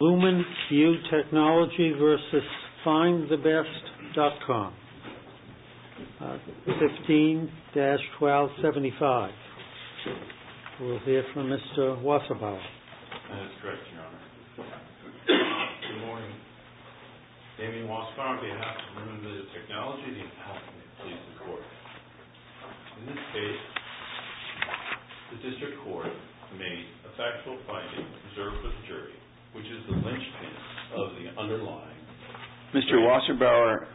Lumen View Technology v. Findthebest.com, 15-1275 We'll hear from Mr. Wasserbaum That's correct, Your Honor Good morning Damien Wasserbaum on behalf of Lumen View Technology, the attorney, please report In this case, the district court made a factual finding reserved for the jury Which is the linchpin of the underlying Mr. Wasserbaum,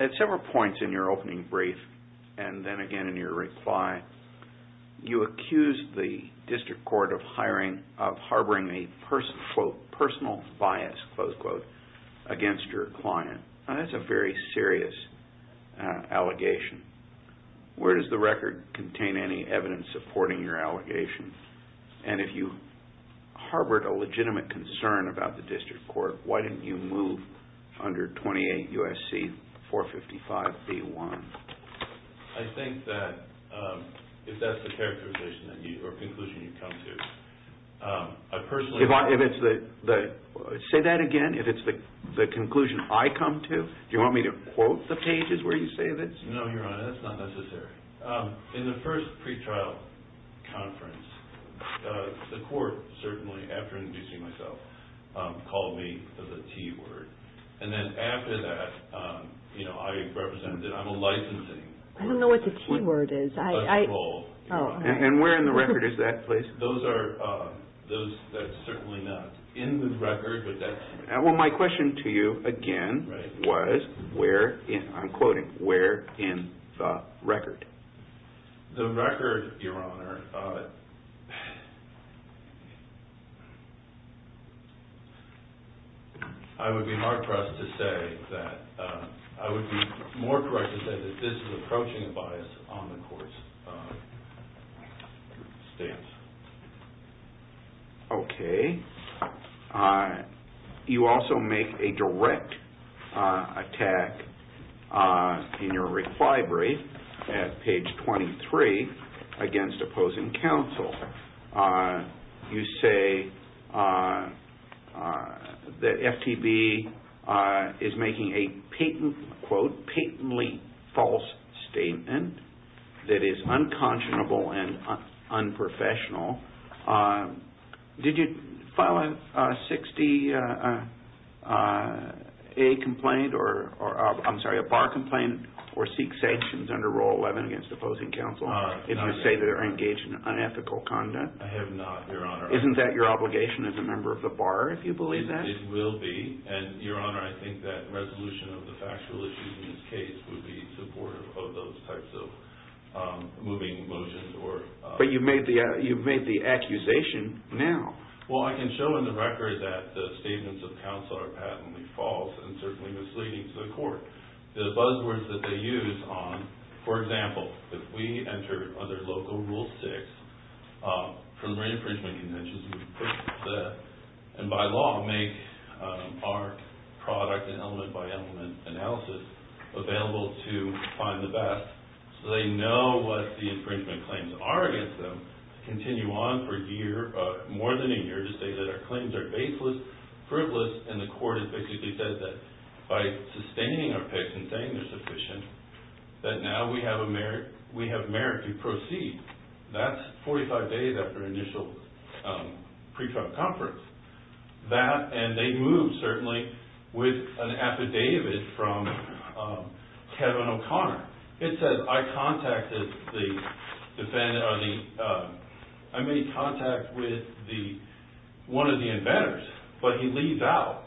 at several points in your opening brief and then again in your reply You accused the district court of harboring a personal bias against your client That's a very serious allegation Where does the record contain any evidence supporting your allegation? And if you harbored a legitimate concern about the district court Why didn't you move under 28 U.S.C. 455 v. 1? I think that if that's the characterization or conclusion you come to I personally Say that again, if it's the conclusion I come to Do you want me to quote the pages where you say this? No, Your Honor, that's not necessary In the first pre-trial conference, the court, certainly after inducing myself Called me the T-word And then after that, I represented, I'm a licensing I don't know what the T-word is And where in the record is that, please? Those that are certainly not in the record Well, my question to you again was Where in, I'm quoting, where in the record? The record, Your Honor I would be more correct to say that this is approaching a bias on the court's stance Okay You also make a direct attack in your reclibery At page 23 against opposing counsel You say that FTB is making a Patently false statement That is unconscionable and unprofessional Did you file a 60A complaint I'm sorry, a bar complaint Or seek sanctions under Rule 11 against opposing counsel If you say they're engaged in unethical conduct I have not, Your Honor Isn't that your obligation as a member of the bar if you believe that? It will be And, Your Honor, I think that resolution of the factual issues in this case Would be supportive of those types of moving motions But you've made the accusation now Well, I can show in the record that the statements of counsel are patently false And certainly misleading to the court The buzzwords that they use on For example, if we enter under Local Rule 6 From re-imprisonment conventions And by law make our product and element-by-element analysis Available to find the best So they know what the infringement claims are against them Continue on for a year, more than a year To say that our claims are baseless, fruitless And the court has basically said that By sustaining our picks and saying they're sufficient That now we have merit to proceed That's 45 days after initial pre-trial conference That, and they move, certainly With an affidavit from Kevin O'Connor It says, I contacted the defendant I made contact with one of the inventors But he leaves out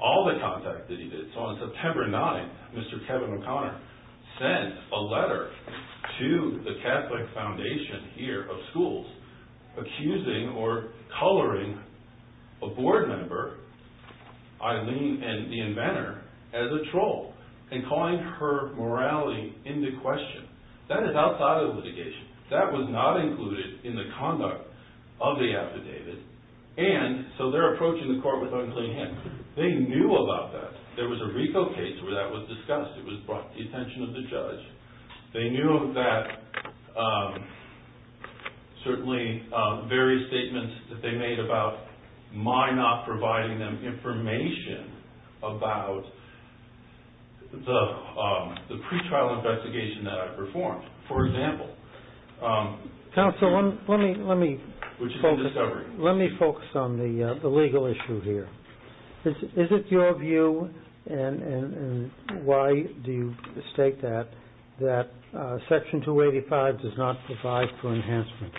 all the contact that he did So on September 9th, Mr. Kevin O'Connor Sent a letter to the Catholic Foundation here of schools Accusing or coloring a board member Eileen and the inventor as a troll And calling her morality into question That is outside of litigation That was not included in the conduct of the affidavit And so they're approaching the court with unclean hands They knew about that There was a RICO case where that was discussed It was brought to the attention of the judge They knew of that, certainly Various statements that they made about My not providing them information About the pre-trial investigation that I performed For example Counsel, let me focus on the legal issue here Is it your view, and why do you state that That Section 285 does not provide for enhancement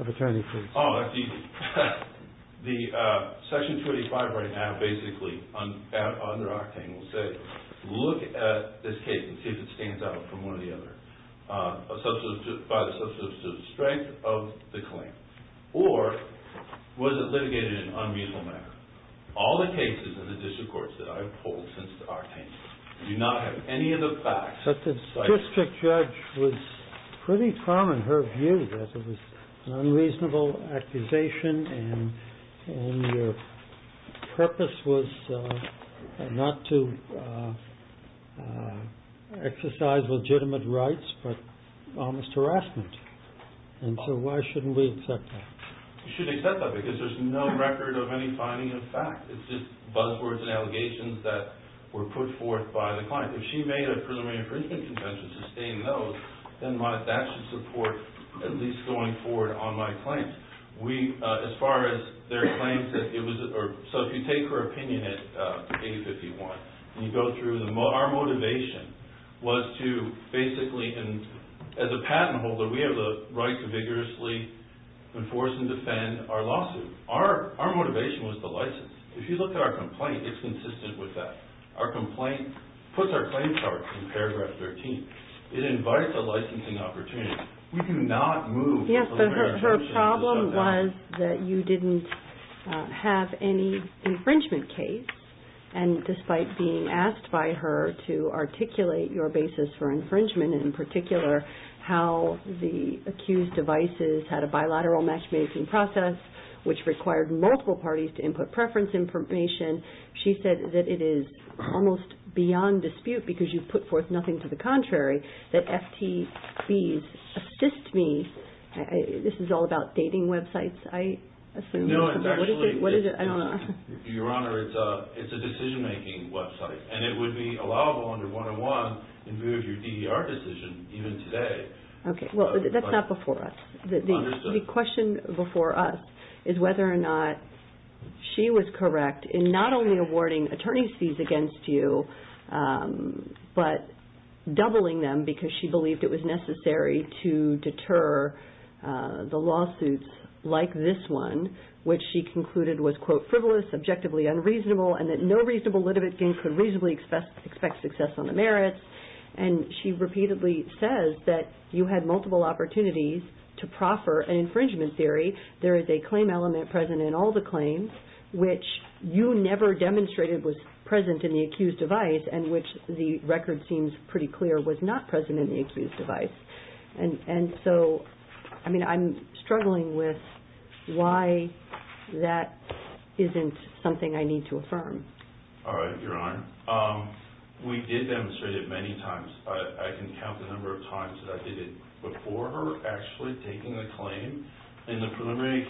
Of attorney fees Oh, that's easy The Section 285 right now basically Under Octane will say Look at this case and see if it stands out from one or the other By the substantive strength of the claim Or was it litigated in an unreasonable manner All the cases in the district courts that I've pulled since Octane Do not have any of the facts But the district judge was pretty calm in her view That it was an unreasonable accusation And your purpose was Not to exercise legitimate rights But almost harassment And so why shouldn't we accept that You should accept that because there's no record of any finding of fact It's just buzzwords and allegations that were put forth by the client If she made a presuming infringement convention to sustain those Then that should support at least going forward on my claims As far as their claims So if you take her opinion at 851 Our motivation was to basically As a patent holder, we have the right to vigorously Enforce and defend our lawsuit Our motivation was the license If you look at our complaint, it's consistent with that Our complaint puts our claim charge in paragraph 13 It invites a licensing opportunity We do not move Yes, but her problem was that you didn't Have any infringement case And despite being asked by her To articulate your basis for infringement in particular How the accused devices had a bilateral matchmaking process Which required multiple parties to input preference information She said that it is almost beyond dispute Because you put forth nothing to the contrary That FTBs assist me This is all about dating websites, I assume No, it's actually Your Honor, it's a decision-making website And it would be allowable under 101 To move your DDR decision even today Okay, well that's not before us The question before us is whether or not She was correct in not only awarding Attorneys fees against you But doubling them because she believed it was necessary To deter the lawsuits like this one Which she concluded was, quote, frivolous Objectively unreasonable and that no reasonable litigant Could reasonably expect success on the merits And she repeatedly says that you had multiple opportunities To proffer an infringement theory There is a claim element present in all the claims Which you never demonstrated was present in the accused device And which the record seems pretty clear Was not present in the accused device And so, I mean, I'm struggling with Why that isn't something I need to affirm All right, Your Honor We did demonstrate it many times I can count the number of times that I did it Before her actually taking the claim In the preliminary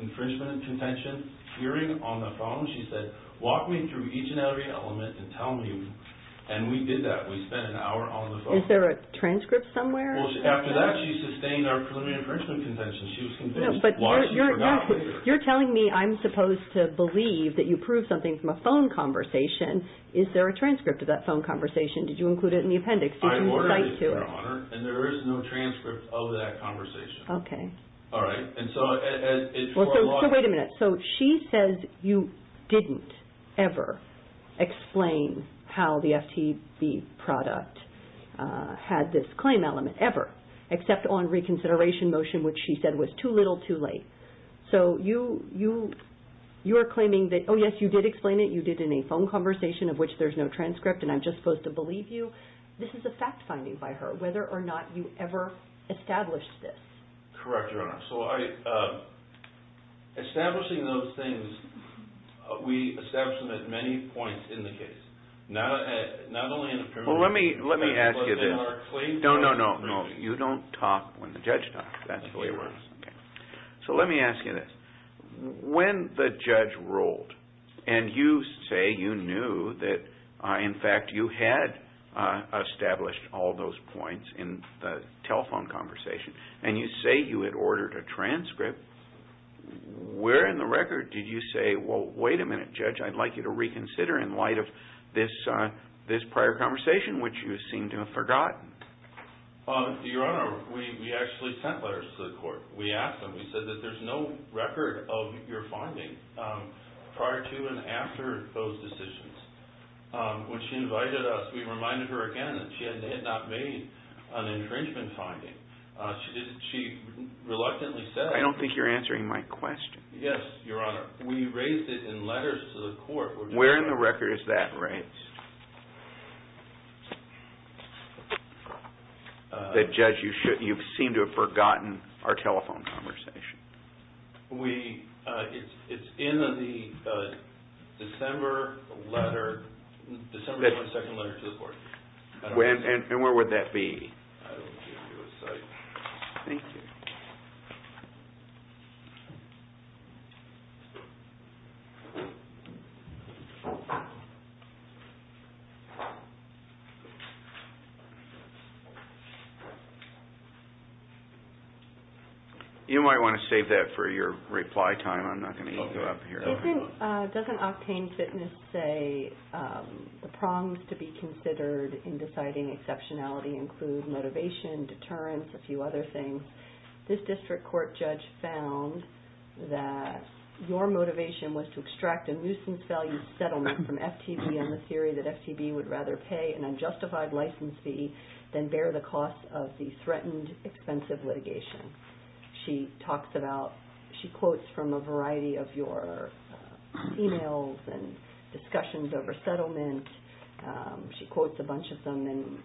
infringement contention hearing on the phone She said, walk me through each and every element And tell me, and we did that We spent an hour on the phone Is there a transcript somewhere? Well, after that she sustained our preliminary infringement contention She was convinced, largely forgot You're telling me I'm supposed to believe That you proved something from a phone conversation Is there a transcript of that phone conversation? Did you include it in the appendix? I ordered it, Your Honor And there is no transcript of that conversation Okay All right, and so So wait a minute So she says you didn't ever explain How the FTB product had this claim element, ever Except on reconsideration motion Which she said was too little, too late So you're claiming that Oh yes, you did explain it You did in a phone conversation Of which there's no transcript And I'm just supposed to believe you So this is a fact finding by her Whether or not you ever established this Correct, Your Honor So I Establishing those things We establish them at many points in the case Not only in the preliminary Let me ask you this But they are claims No, no, no You don't talk when the judge talks That's the way it works Okay So let me ask you this When the judge ruled And you say you knew that In fact, you had established all those points In the telephone conversation And you say you had ordered a transcript Where in the record did you say Well, wait a minute, Judge I'd like you to reconsider In light of this prior conversation Which you seem to have forgotten Your Honor We actually sent letters to the court We asked them We said that there's no record of your finding Prior to and after those decisions When she invited us We reminded her again That she had not made an infringement finding She reluctantly said I don't think you're answering my question Yes, Your Honor We raised it in letters to the court Where in the record is that raised? That Judge, you seem to have forgotten Our telephone conversation We It's in the December letter December 22nd letter to the court And where would that be? I don't give you a site Thank you You might want to save that for your reply time I'm not going to eat you up here Doesn't Octane Fitness say The prongs to be considered In deciding exceptionality Include motivation, deterrence In deciding exceptionality Includes motivation, deterrence A few other things Your motivation was to extract A nuisance value settlement from FTB And the theory that FTB would rather pay An unjustified license fee Than bear the cost of the threatened Expensive litigation She quotes from a variety of your Emails and discussions over settlement She quotes a bunch of them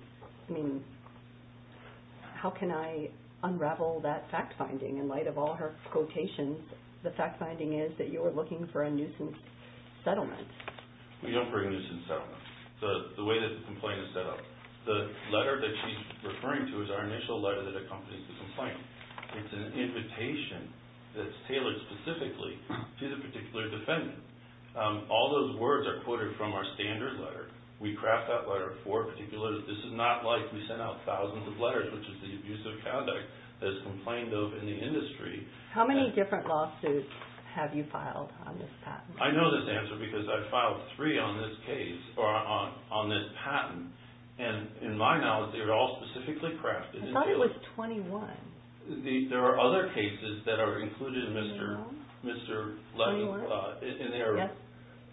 How can I unravel that fact finding In light of all her quotations The fact finding is that you were looking For a nuisance settlement We don't bring a nuisance settlement The way that the complaint is set up The letter that she's referring to Is our initial letter that accompanies the complaint It's an invitation That's tailored specifically To the particular defendant All those words are quoted from our standard letter We craft that letter for a particular This is not like we send out thousands of letters Which is the abuse of conduct That's complained of in the industry How many different lawsuits Have you filed on this patent? I know this answer because I've filed three On this case, or on this patent And in my knowledge They were all specifically crafted I thought it was 21 There are other cases that are included In their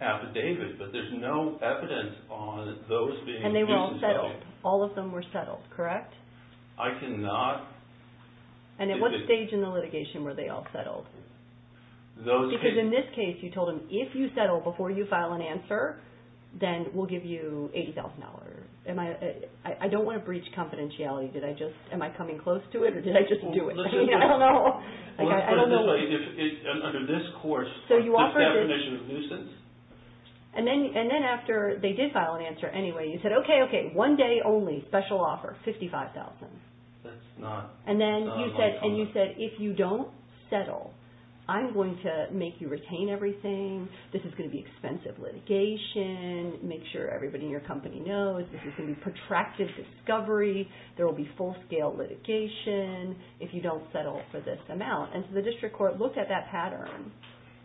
affidavit But there's no evidence On those being cases held All of them were settled, correct? I cannot And at what stage in the litigation Were they all settled? Because in this case you told them If you settle before you file an answer Then we'll give you $80,000 Am I I don't want to breach confidentiality Am I coming close to it or did I just do it? I don't know Under this course This definition of nuisance And then after They did file an answer anyway And you said, okay, okay, one day only Special offer, $55,000 And then you said If you don't settle I'm going to make you retain everything This is going to be expensive litigation Make sure everybody In your company knows This is going to be protracted discovery There will be full scale litigation If you don't settle for this amount And so the district court looked at that pattern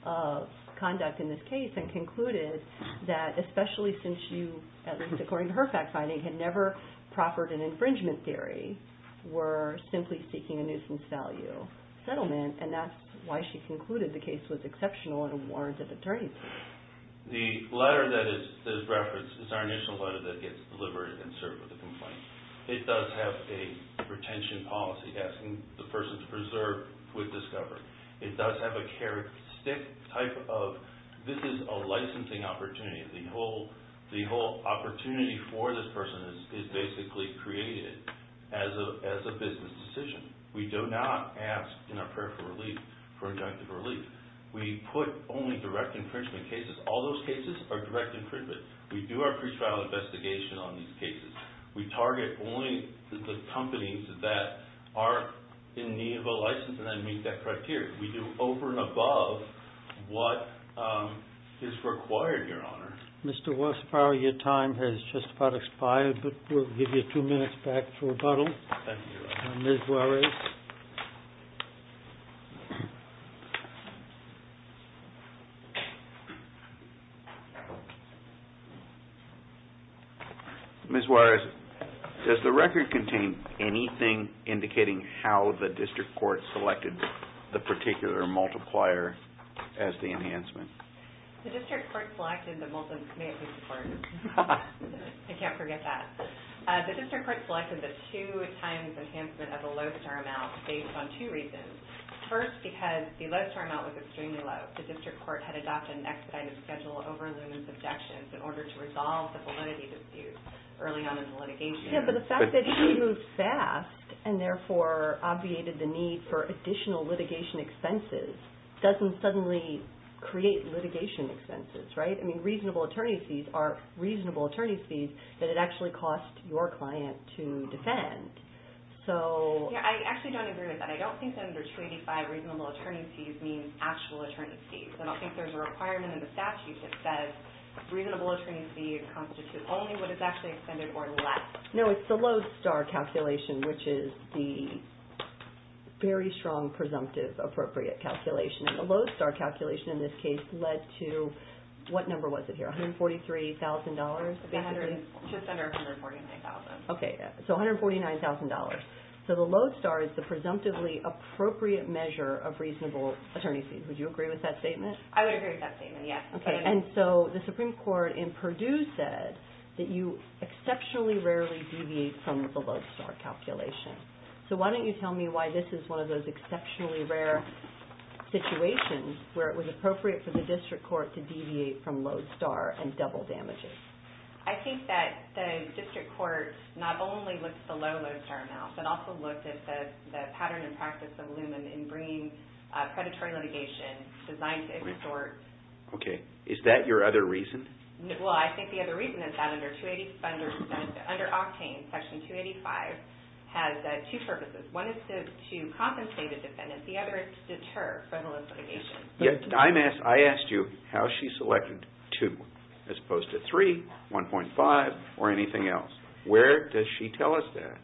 Of conduct in this case And concluded that Especially since you At least according to her fact finding Had never proffered an infringement theory Were simply seeking a nuisance value Settlement And that's why she concluded the case was exceptional And warrants of attorneys The letter that is referenced Is our initial letter that gets delivered And served with a complaint It does have a retention policy Asking the person to preserve With discovery It does have a characteristic type of This is a licensing opportunity The whole opportunity For this person is basically Created as a Business decision We do not ask in our prayer for relief For injunctive relief We put only direct infringement cases All those cases are direct infringement We do our pre-trial investigation on these cases We target only The companies that Are in need of a license And then meet that criteria We do over and above What is required Your honor Your time has just about expired We'll give you two minutes back For rebuttal Ms. Juarez Ms. Juarez Does the record contain anything Indicating how the district court Selected the particular multiplier As the enhancement The district court selected I can't forget that The district court selected the two times Enhancement as a low star amount Based on two reasons First because the low star amount was extremely low The district court had adopted an expedited Schedule over looming subjections In order to resolve the validity dispute Early on in litigation The fact that she moved fast And therefore obviated the need For additional litigation expenses Doesn't suddenly Create litigation expenses I mean reasonable attorney's fees Are reasonable attorney's fees That it actually cost your client to defend So I actually don't agree with that I don't think under 285 reasonable attorney's fees Means actual attorney's fees I don't think there's a requirement in the statute That says reasonable attorney's fees Constitute only what is actually extended or less No, it's the low star calculation Which is the Very strong presumptive Appropriate calculation And the low star calculation in this case led to What number was it here? $143,000 Just under $149,000 Okay, so $149,000 So the low star is the presumptively Appropriate measure of reasonable attorney's fees Would you agree with that statement? I would agree with that statement, yes And so the Supreme Court in Purdue said That you exceptionally rarely deviate From the low star calculation So why don't you tell me Why this is one of those exceptionally rare Situations Where it was appropriate for the district court To deviate from low star and double damages I think that The district court not only Looked at the low low star amount But also looked at the pattern and practice Of Lumen in bringing Predatory litigation designed to extort Okay, is that your other reason? Well, I think the other reason is that Under Octane Section 285 has Two purposes. One is to Compensate a defendant. The other is to deter From a litigation I asked you how she selected Two as opposed to three 1.5 or anything else Where does she tell us that?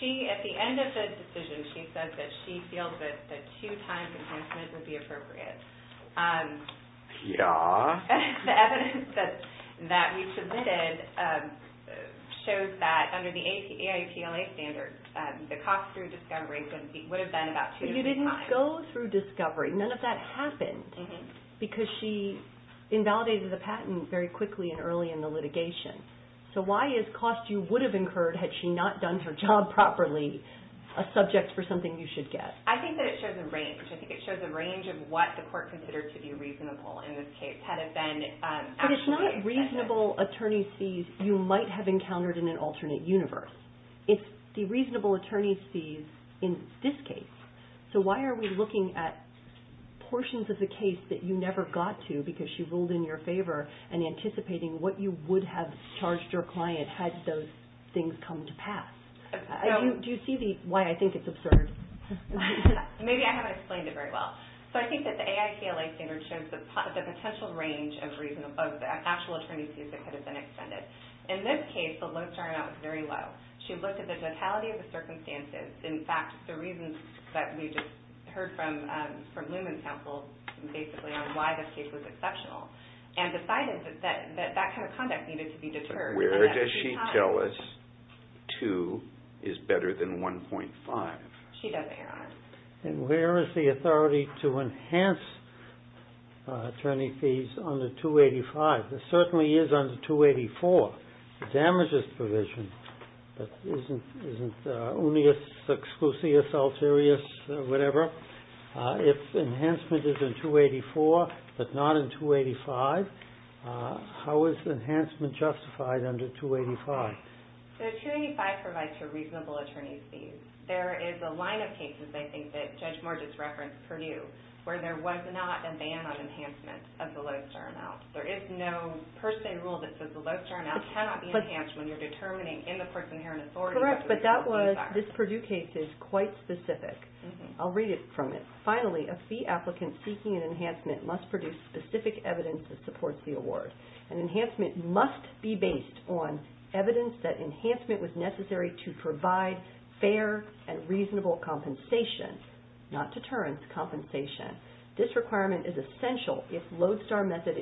She, at the end of the decision She says that she feels that Two times enhancement would be appropriate Yeah The evidence That we submitted Shows that under the AIPLA standards The cost through discovery would have been about 2.5. But you didn't go through discovery None of that happened Because she invalidated the patent Very quickly and early in the litigation So why is cost you would have Incurred had she not done her job Properly a subject for something You should get? I think that it shows a range I think it shows a range of what the court Considered to be reasonable in this case Had it been But it's not reasonable attorney's fees You might have encountered in an alternate universe It's the reasonable attorney's fees In this case So why are we looking at Portions of the case that you never Got to because she ruled in your favor And anticipating what you would have Charged your client had those Things come to pass Do you see why I think it's absurd? Maybe I haven't AIPLA standards shows the potential Range of actual Attorney's fees that could have been extended In this case, the low turnout was very low She looked at the totality of the circumstances In fact, the reasons that We just heard from Newman's counsel basically On why this case was exceptional And decided that that kind of conduct Needed to be deterred Where does she tell us 2 is better than 1.5? She doesn't hear on it And where is the authority To enhance Attorney's fees under 285? It certainly is under 284 Damages provision But isn't Unius exclusius Alterius, whatever If enhancement is in 284 but not in 285 How is Enhancement justified under 285? 285 provides for reasonable attorney's fees There is a line of cases That Judge Morgis referenced Purdue where there was not a ban on Enhancement of the low turnout There is no per se rule that says The low turnout cannot be enhanced When you're determining in the court's inherent authority Correct, but that was This Purdue case is quite specific I'll read it from it Finally, a fee applicant seeking an enhancement Must produce specific evidence that supports the award Enhancement must be based On evidence that enhancement Was necessary to provide Fair and reasonable compensation Not deterrence, compensation This requirement is essential If Lodestar method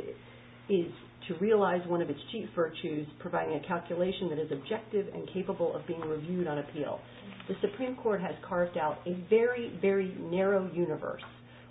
Is to realize one of its Cheap virtues, providing a calculation That is objective and capable of being reviewed On appeal. The Supreme Court Has carved out a very, very Narrow universe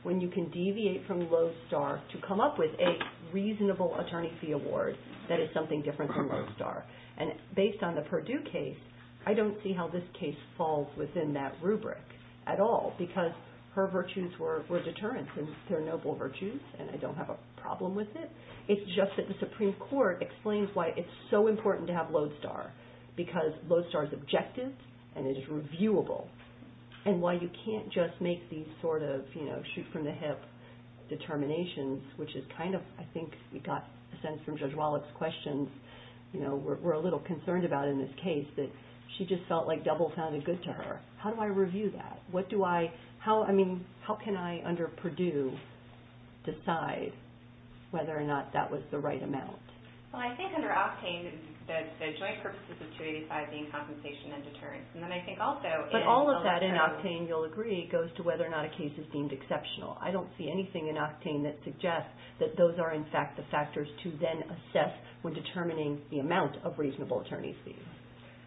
when you can Deviate from Lodestar to come up With a reasonable attorney fee award That is something different from Lodestar And based on the Purdue case I don't see how this case Falls within that rubric at all Because her virtues were Deterrence and they're noble virtues And I don't have a problem with it It's just that the Supreme Court explains Why it's so important to have Lodestar Because Lodestar is objective And it is reviewable And why you can't just make these Sort of, you know, shoot from the hip Determinations, which is kind of I think we got a sense from Judge Wallach's questions We're a little concerned about in this case That she just felt like double sounded good To her. How do I review that? How can I Under Purdue Decide whether or not That was the right amount? Well I think under Octane The joint purposes of 285 being compensation and deterrence And then I think also But all of that in Octane you'll agree goes to Whether or not a case is deemed exceptional I don't see anything in Octane that suggests That those are in fact the factors to Then assess when determining The amount of reasonable attorney's fees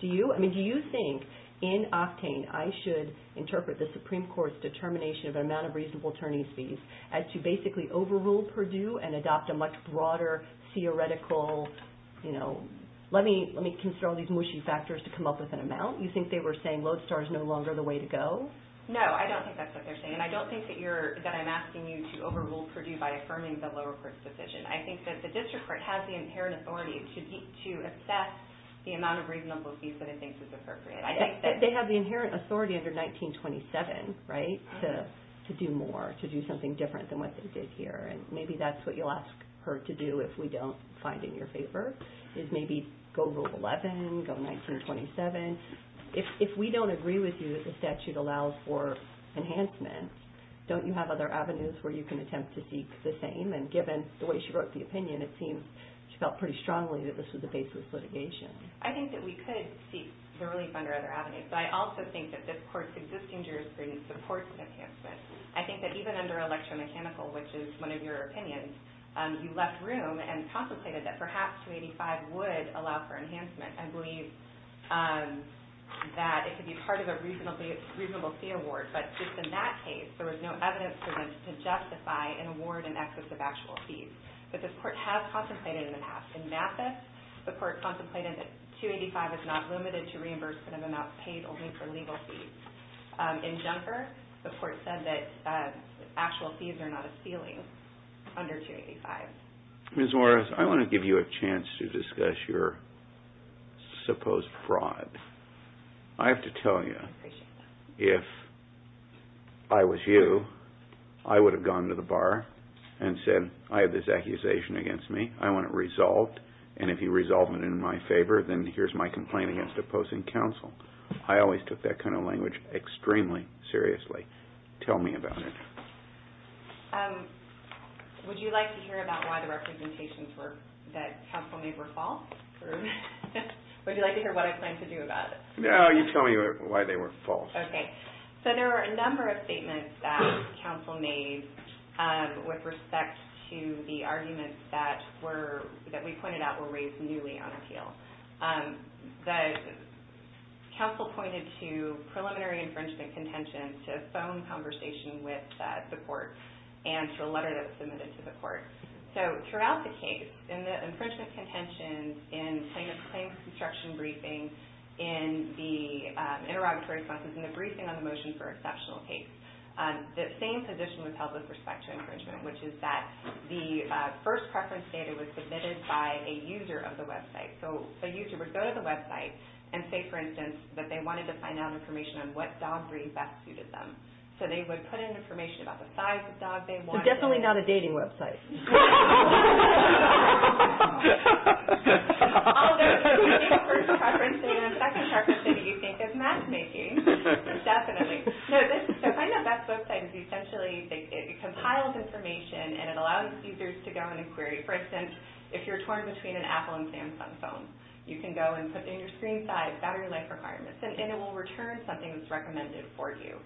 Do you? I mean do you think In Octane I should interpret The Supreme Court's determination of an amount Of reasonable attorney's fees as to basically Overrule Purdue and adopt a much Broader theoretical You know, let me Consider all these mushy factors to come up with an amount You think they were saying Lodestar is no longer The way to go? No, I don't think that's What they're saying and I don't think that you're That I'm asking you to overrule Purdue By affirming the lower court's decision I think that the district court has the inherent authority To assess the amount of Reasonable fees that it thinks is appropriate They have the inherent authority under 1927, right? To do more, to do something different Than what they did here and maybe that's what you'll Ask her to do if we don't Find in your favor is maybe Go Rule 11, go 1927 If we don't agree With you that the statute allows for Enhancement, don't you have other avenues Where you can attempt to seek the same And given the way she wrote the opinion, it seems She felt pretty strongly that this was A baseless litigation. I think that we could Seek the relief under other avenues But I also think that this court's existing Jurisprudence supports an enhancement I think that even under electromechanical Which is one of your opinions You left room and contemplated that perhaps 285 would allow for enhancement I believe That it could be part of a Reasonable fee award, but Just in that case, there was no evidence To justify an award in excess Of actual fees, but this court has Contemplated in the past. In Mathis The court contemplated that 285 Is not limited to reimbursement of amounts Paid only for legal fees In Junker, the court said that Actual fees are not a ceiling Under 285 Ms. Morris, I want to give you a Chance to discuss your Supposed fraud I have to tell you If I was you I would have gone to the bar And said I have this accusation against me I want it resolved And if you resolve it in my favor, then here's My complaint against opposing counsel I always took that kind of language Extremely seriously Tell me about it Would you like to hear About why the representations were That counsel made were false Would you like to hear what I Planned to do about it? No, you tell me why they were false So there were a number of statements that Counsel made With respect to the arguments That we pointed out Were raised newly on appeal The Counsel pointed to Preliminary infringement contentions To a phone conversation with the court And to a letter that was submitted to the court So throughout the case In the infringement contentions In claims construction briefing In the Interrogatory responses and the briefing on the motion For exceptional case The same position was held with respect to infringement Which is that the First preference data was submitted by A user of the website So a user would go to the website and say For instance that they wanted to find out information On what dog breed best suited them So they would put in information about the size Of dog they wanted Definitely not a dating website Laughter Laughter First preference data And second preference data you think is matchmaking Definitely So find the best website Because it compiles information And it allows users to go in and query For instance if you're torn between an Apple And Samsung phone you can go And put in your screen size battery life requirements And it will return something that's recommended For you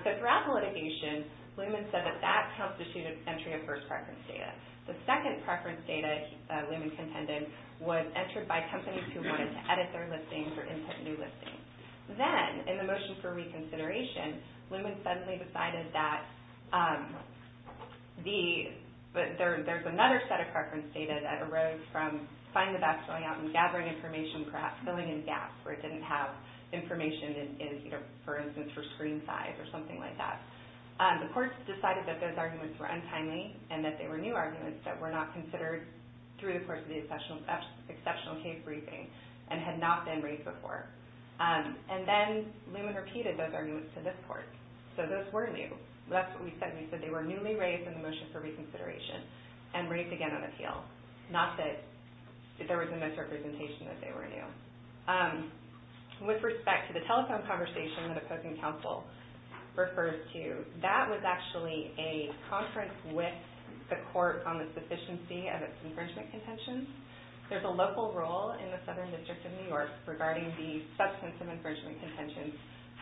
So throughout the litigation Blumen said that that constitutes Entry of first preference data The second preference data Blumen contended Was entered by companies who wanted to Edit their listings or input new listings Then in the motion for reconsideration Blumen suddenly decided That The There's another set of preference data That arose from find the best Going out and gathering information perhaps filling in gaps Where it didn't have information For instance for screen size Or something like that The courts decided that those arguments were untimely And that they were new arguments that were not Considered through the course of the Exceptional case briefing And had not been raised before And then Blumen repeated Those arguments to this court So those were new They were newly raised in the motion for reconsideration And raised again on appeal Not that there was a misrepresentation That they were new So With respect to the telephone conversation That opposing counsel Referred to, that was actually A conference with The court on the sufficiency of its Infringement contentions There's a local role in the Southern District of New York Regarding the substance of infringement Contentions.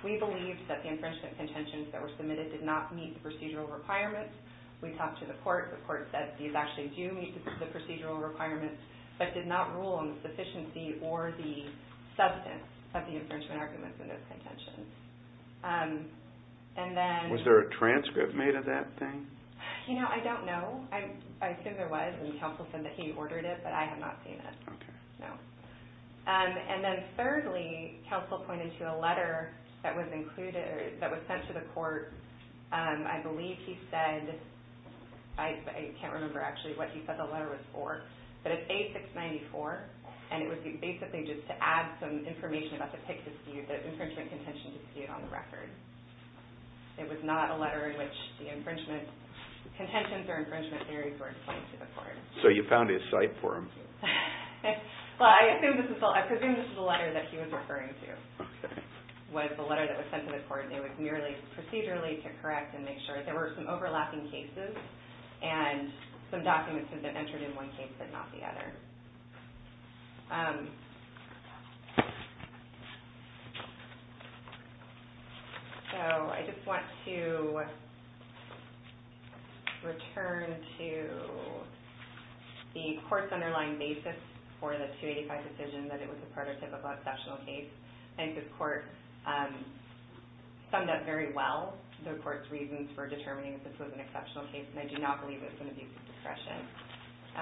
We believe that the Infringement contentions that were submitted did not Meet the procedural requirements We talked to the court, the court said These actually do meet the procedural requirements But did not rule on the sufficiency Or the substance Of the infringement arguments in those contentions And then Was there a transcript made of that thing? You know, I don't know I assume there was, and counsel said that He ordered it, but I have not seen it No And then thirdly, counsel pointed to A letter that was included That was sent to the court I believe he said I can't remember actually What he said the letter was for But it's A694 And it was basically just to add some information About the infringement contentions Dispute on the record It was not a letter in which The infringement contentions or infringement Theories were explained to the court So you found his site for him? Well, I assume this is The letter that he was referring to Was the letter that was sent to the court And it was merely procedurally to correct And make sure, there were some overlapping cases And some documents that Entered in one case but not the other So, I just want to Return to The court's Underlying basis for the 285 Decision that it was a prototypical Summed up Very well the court's reasons For determining if this was an exceptional case And I do not believe it's an abuse of discretion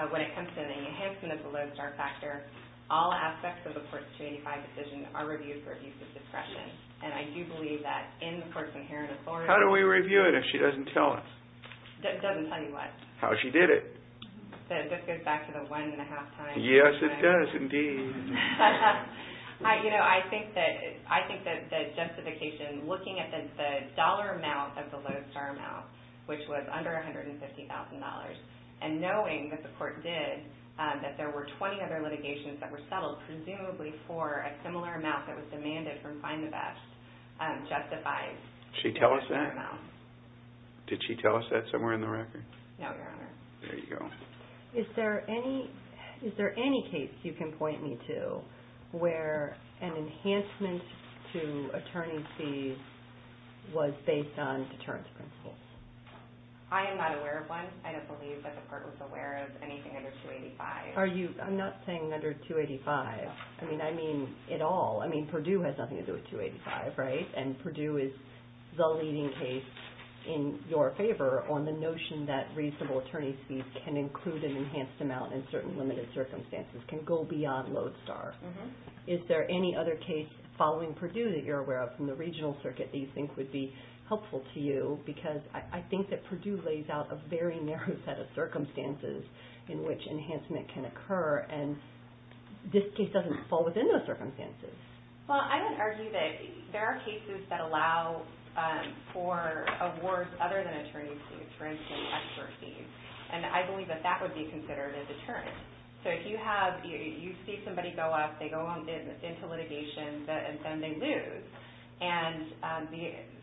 When it comes to the Enhancement of the lodestar factor All aspects of the 285 decision Are reviewed for abuse of discretion And I do believe that in the court's Inherent authority How do we review it if she doesn't tell us? Doesn't tell you what? How she did it This goes back to the one and a half times Yes it does indeed I think that The justification looking at The dollar amount of the lodestar amount Which was under $150,000 And knowing That the court did That there were 20 other litigations that were settled Presumably for a similar amount That was demanded from Find the Best Justified Did she tell us that? Did she tell us that somewhere in the record? No your honor Is there any case You can point me to Where an enhancement To attorney's fees Was based on Deterrence principles I am not aware of one I don't believe the court was aware of anything under 285 I'm not saying under 285 I mean at all Purdue has nothing to do with 285 And Purdue is The leading case in your favor On the notion that reasonable Attorney's fees can include an enhanced Amount in certain limited circumstances Can go beyond lodestar Is there any other case Following Purdue that you're aware of from the regional circuit That you think would be helpful to you Because I think that Purdue lays out A very narrow set of circumstances In which enhancement can occur And This case doesn't fall within those circumstances Well I would argue that There are cases that allow For awards other than Attorney's fees for instance And I believe that that would be considered A deterrent So if you see somebody go up They go into litigation And then they lose And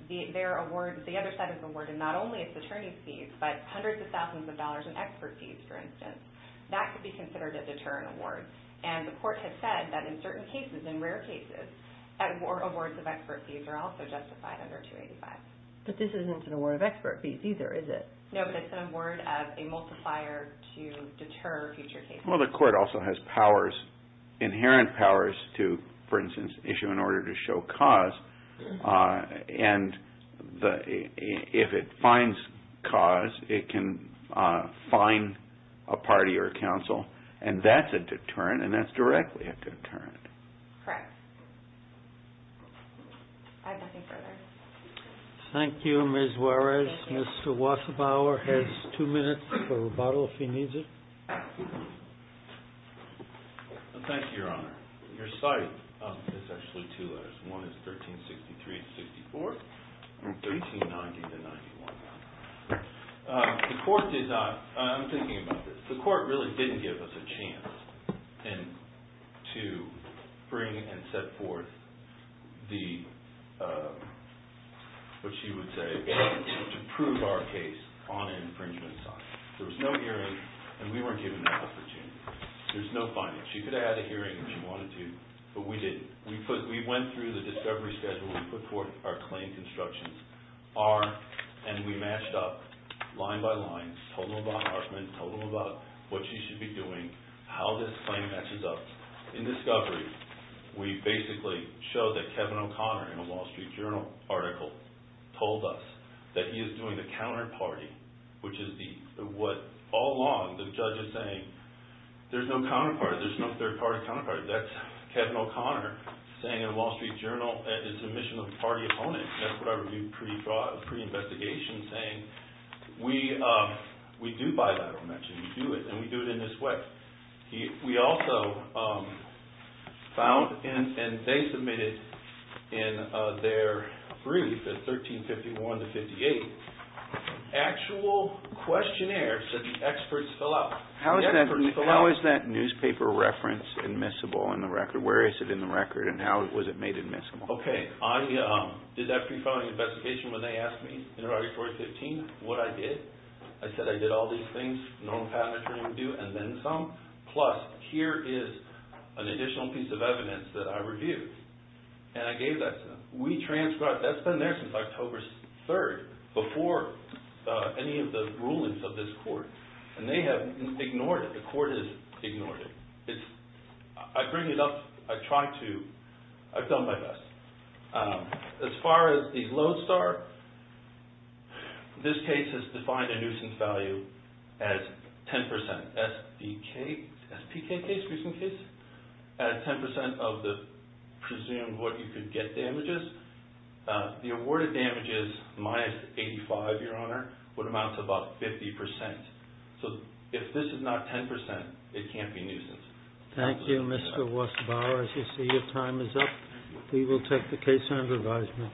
the other side of the award Is not only attorney's fees But hundreds of thousands of dollars in expert fees For instance That could be considered a deterrent award And the court has said that in certain cases In rare cases Awards of expert fees are also justified under 285 But this isn't an award of expert fees either Is it No but it's an award of a multiplier To deter future cases Well the court also has powers Inherent powers to For instance issue an order to show cause And If it Finds cause it can Fine a party Or counsel and that's a deterrent And that's directly a deterrent Correct I have nothing further Thank you Mr. Mezwarez Mr. Wasserbauer has two minutes For rebuttal if he needs it Thank you your honor Your cite is actually two letters One is 1363-64 And 1390-91 The court did not I'm thinking about this The court really didn't give us a chance To bring and set forth The What she would say To prove our case On an infringement site There was no hearing And we weren't given that opportunity There was no finding She could have had a hearing if she wanted to But we didn't We went through the discovery schedule We put forth our claim constructions And we matched up line by line Told them about Hartman Told them about what she should be doing How this claim matches up In discovery We basically showed that Kevin O'Connor In a Wall Street Journal article Told us that he is doing A counterparty Which is what all along The judge is saying There's no counterparty There's no third party counterparty That's Kevin O'Connor Saying in Wall Street Journal That's what I reviewed pre-investigation Saying we do bilateral We do it and we do it in this way We also Found And they submitted In their brief 1351-58 Actual questionnaires That the experts fill out How is that newspaper reference Admissible in the record Where is it in the record and how was it made admissible Okay I did that pre-filing investigation when they asked me In Article 415 what I did I said I did all these things Normal patent attorney would do and then some Plus here is An additional piece of evidence that I reviewed And I gave that to them We transcribed, that's been there since October 3rd Before Any of the rulings of this court And they have ignored it The court has ignored it I bring it up I try to, I've done my best As far as The lodestar This case has defined A nuisance value as 10% SPK case As 10% of the Presumed what you could get damages The awarded damages Minus 85 your honor Would amount to about 50% So if this is not 10% It can't be a nuisance Thank you Mr. Wasbauer As you see your time is up We will take the case under advisement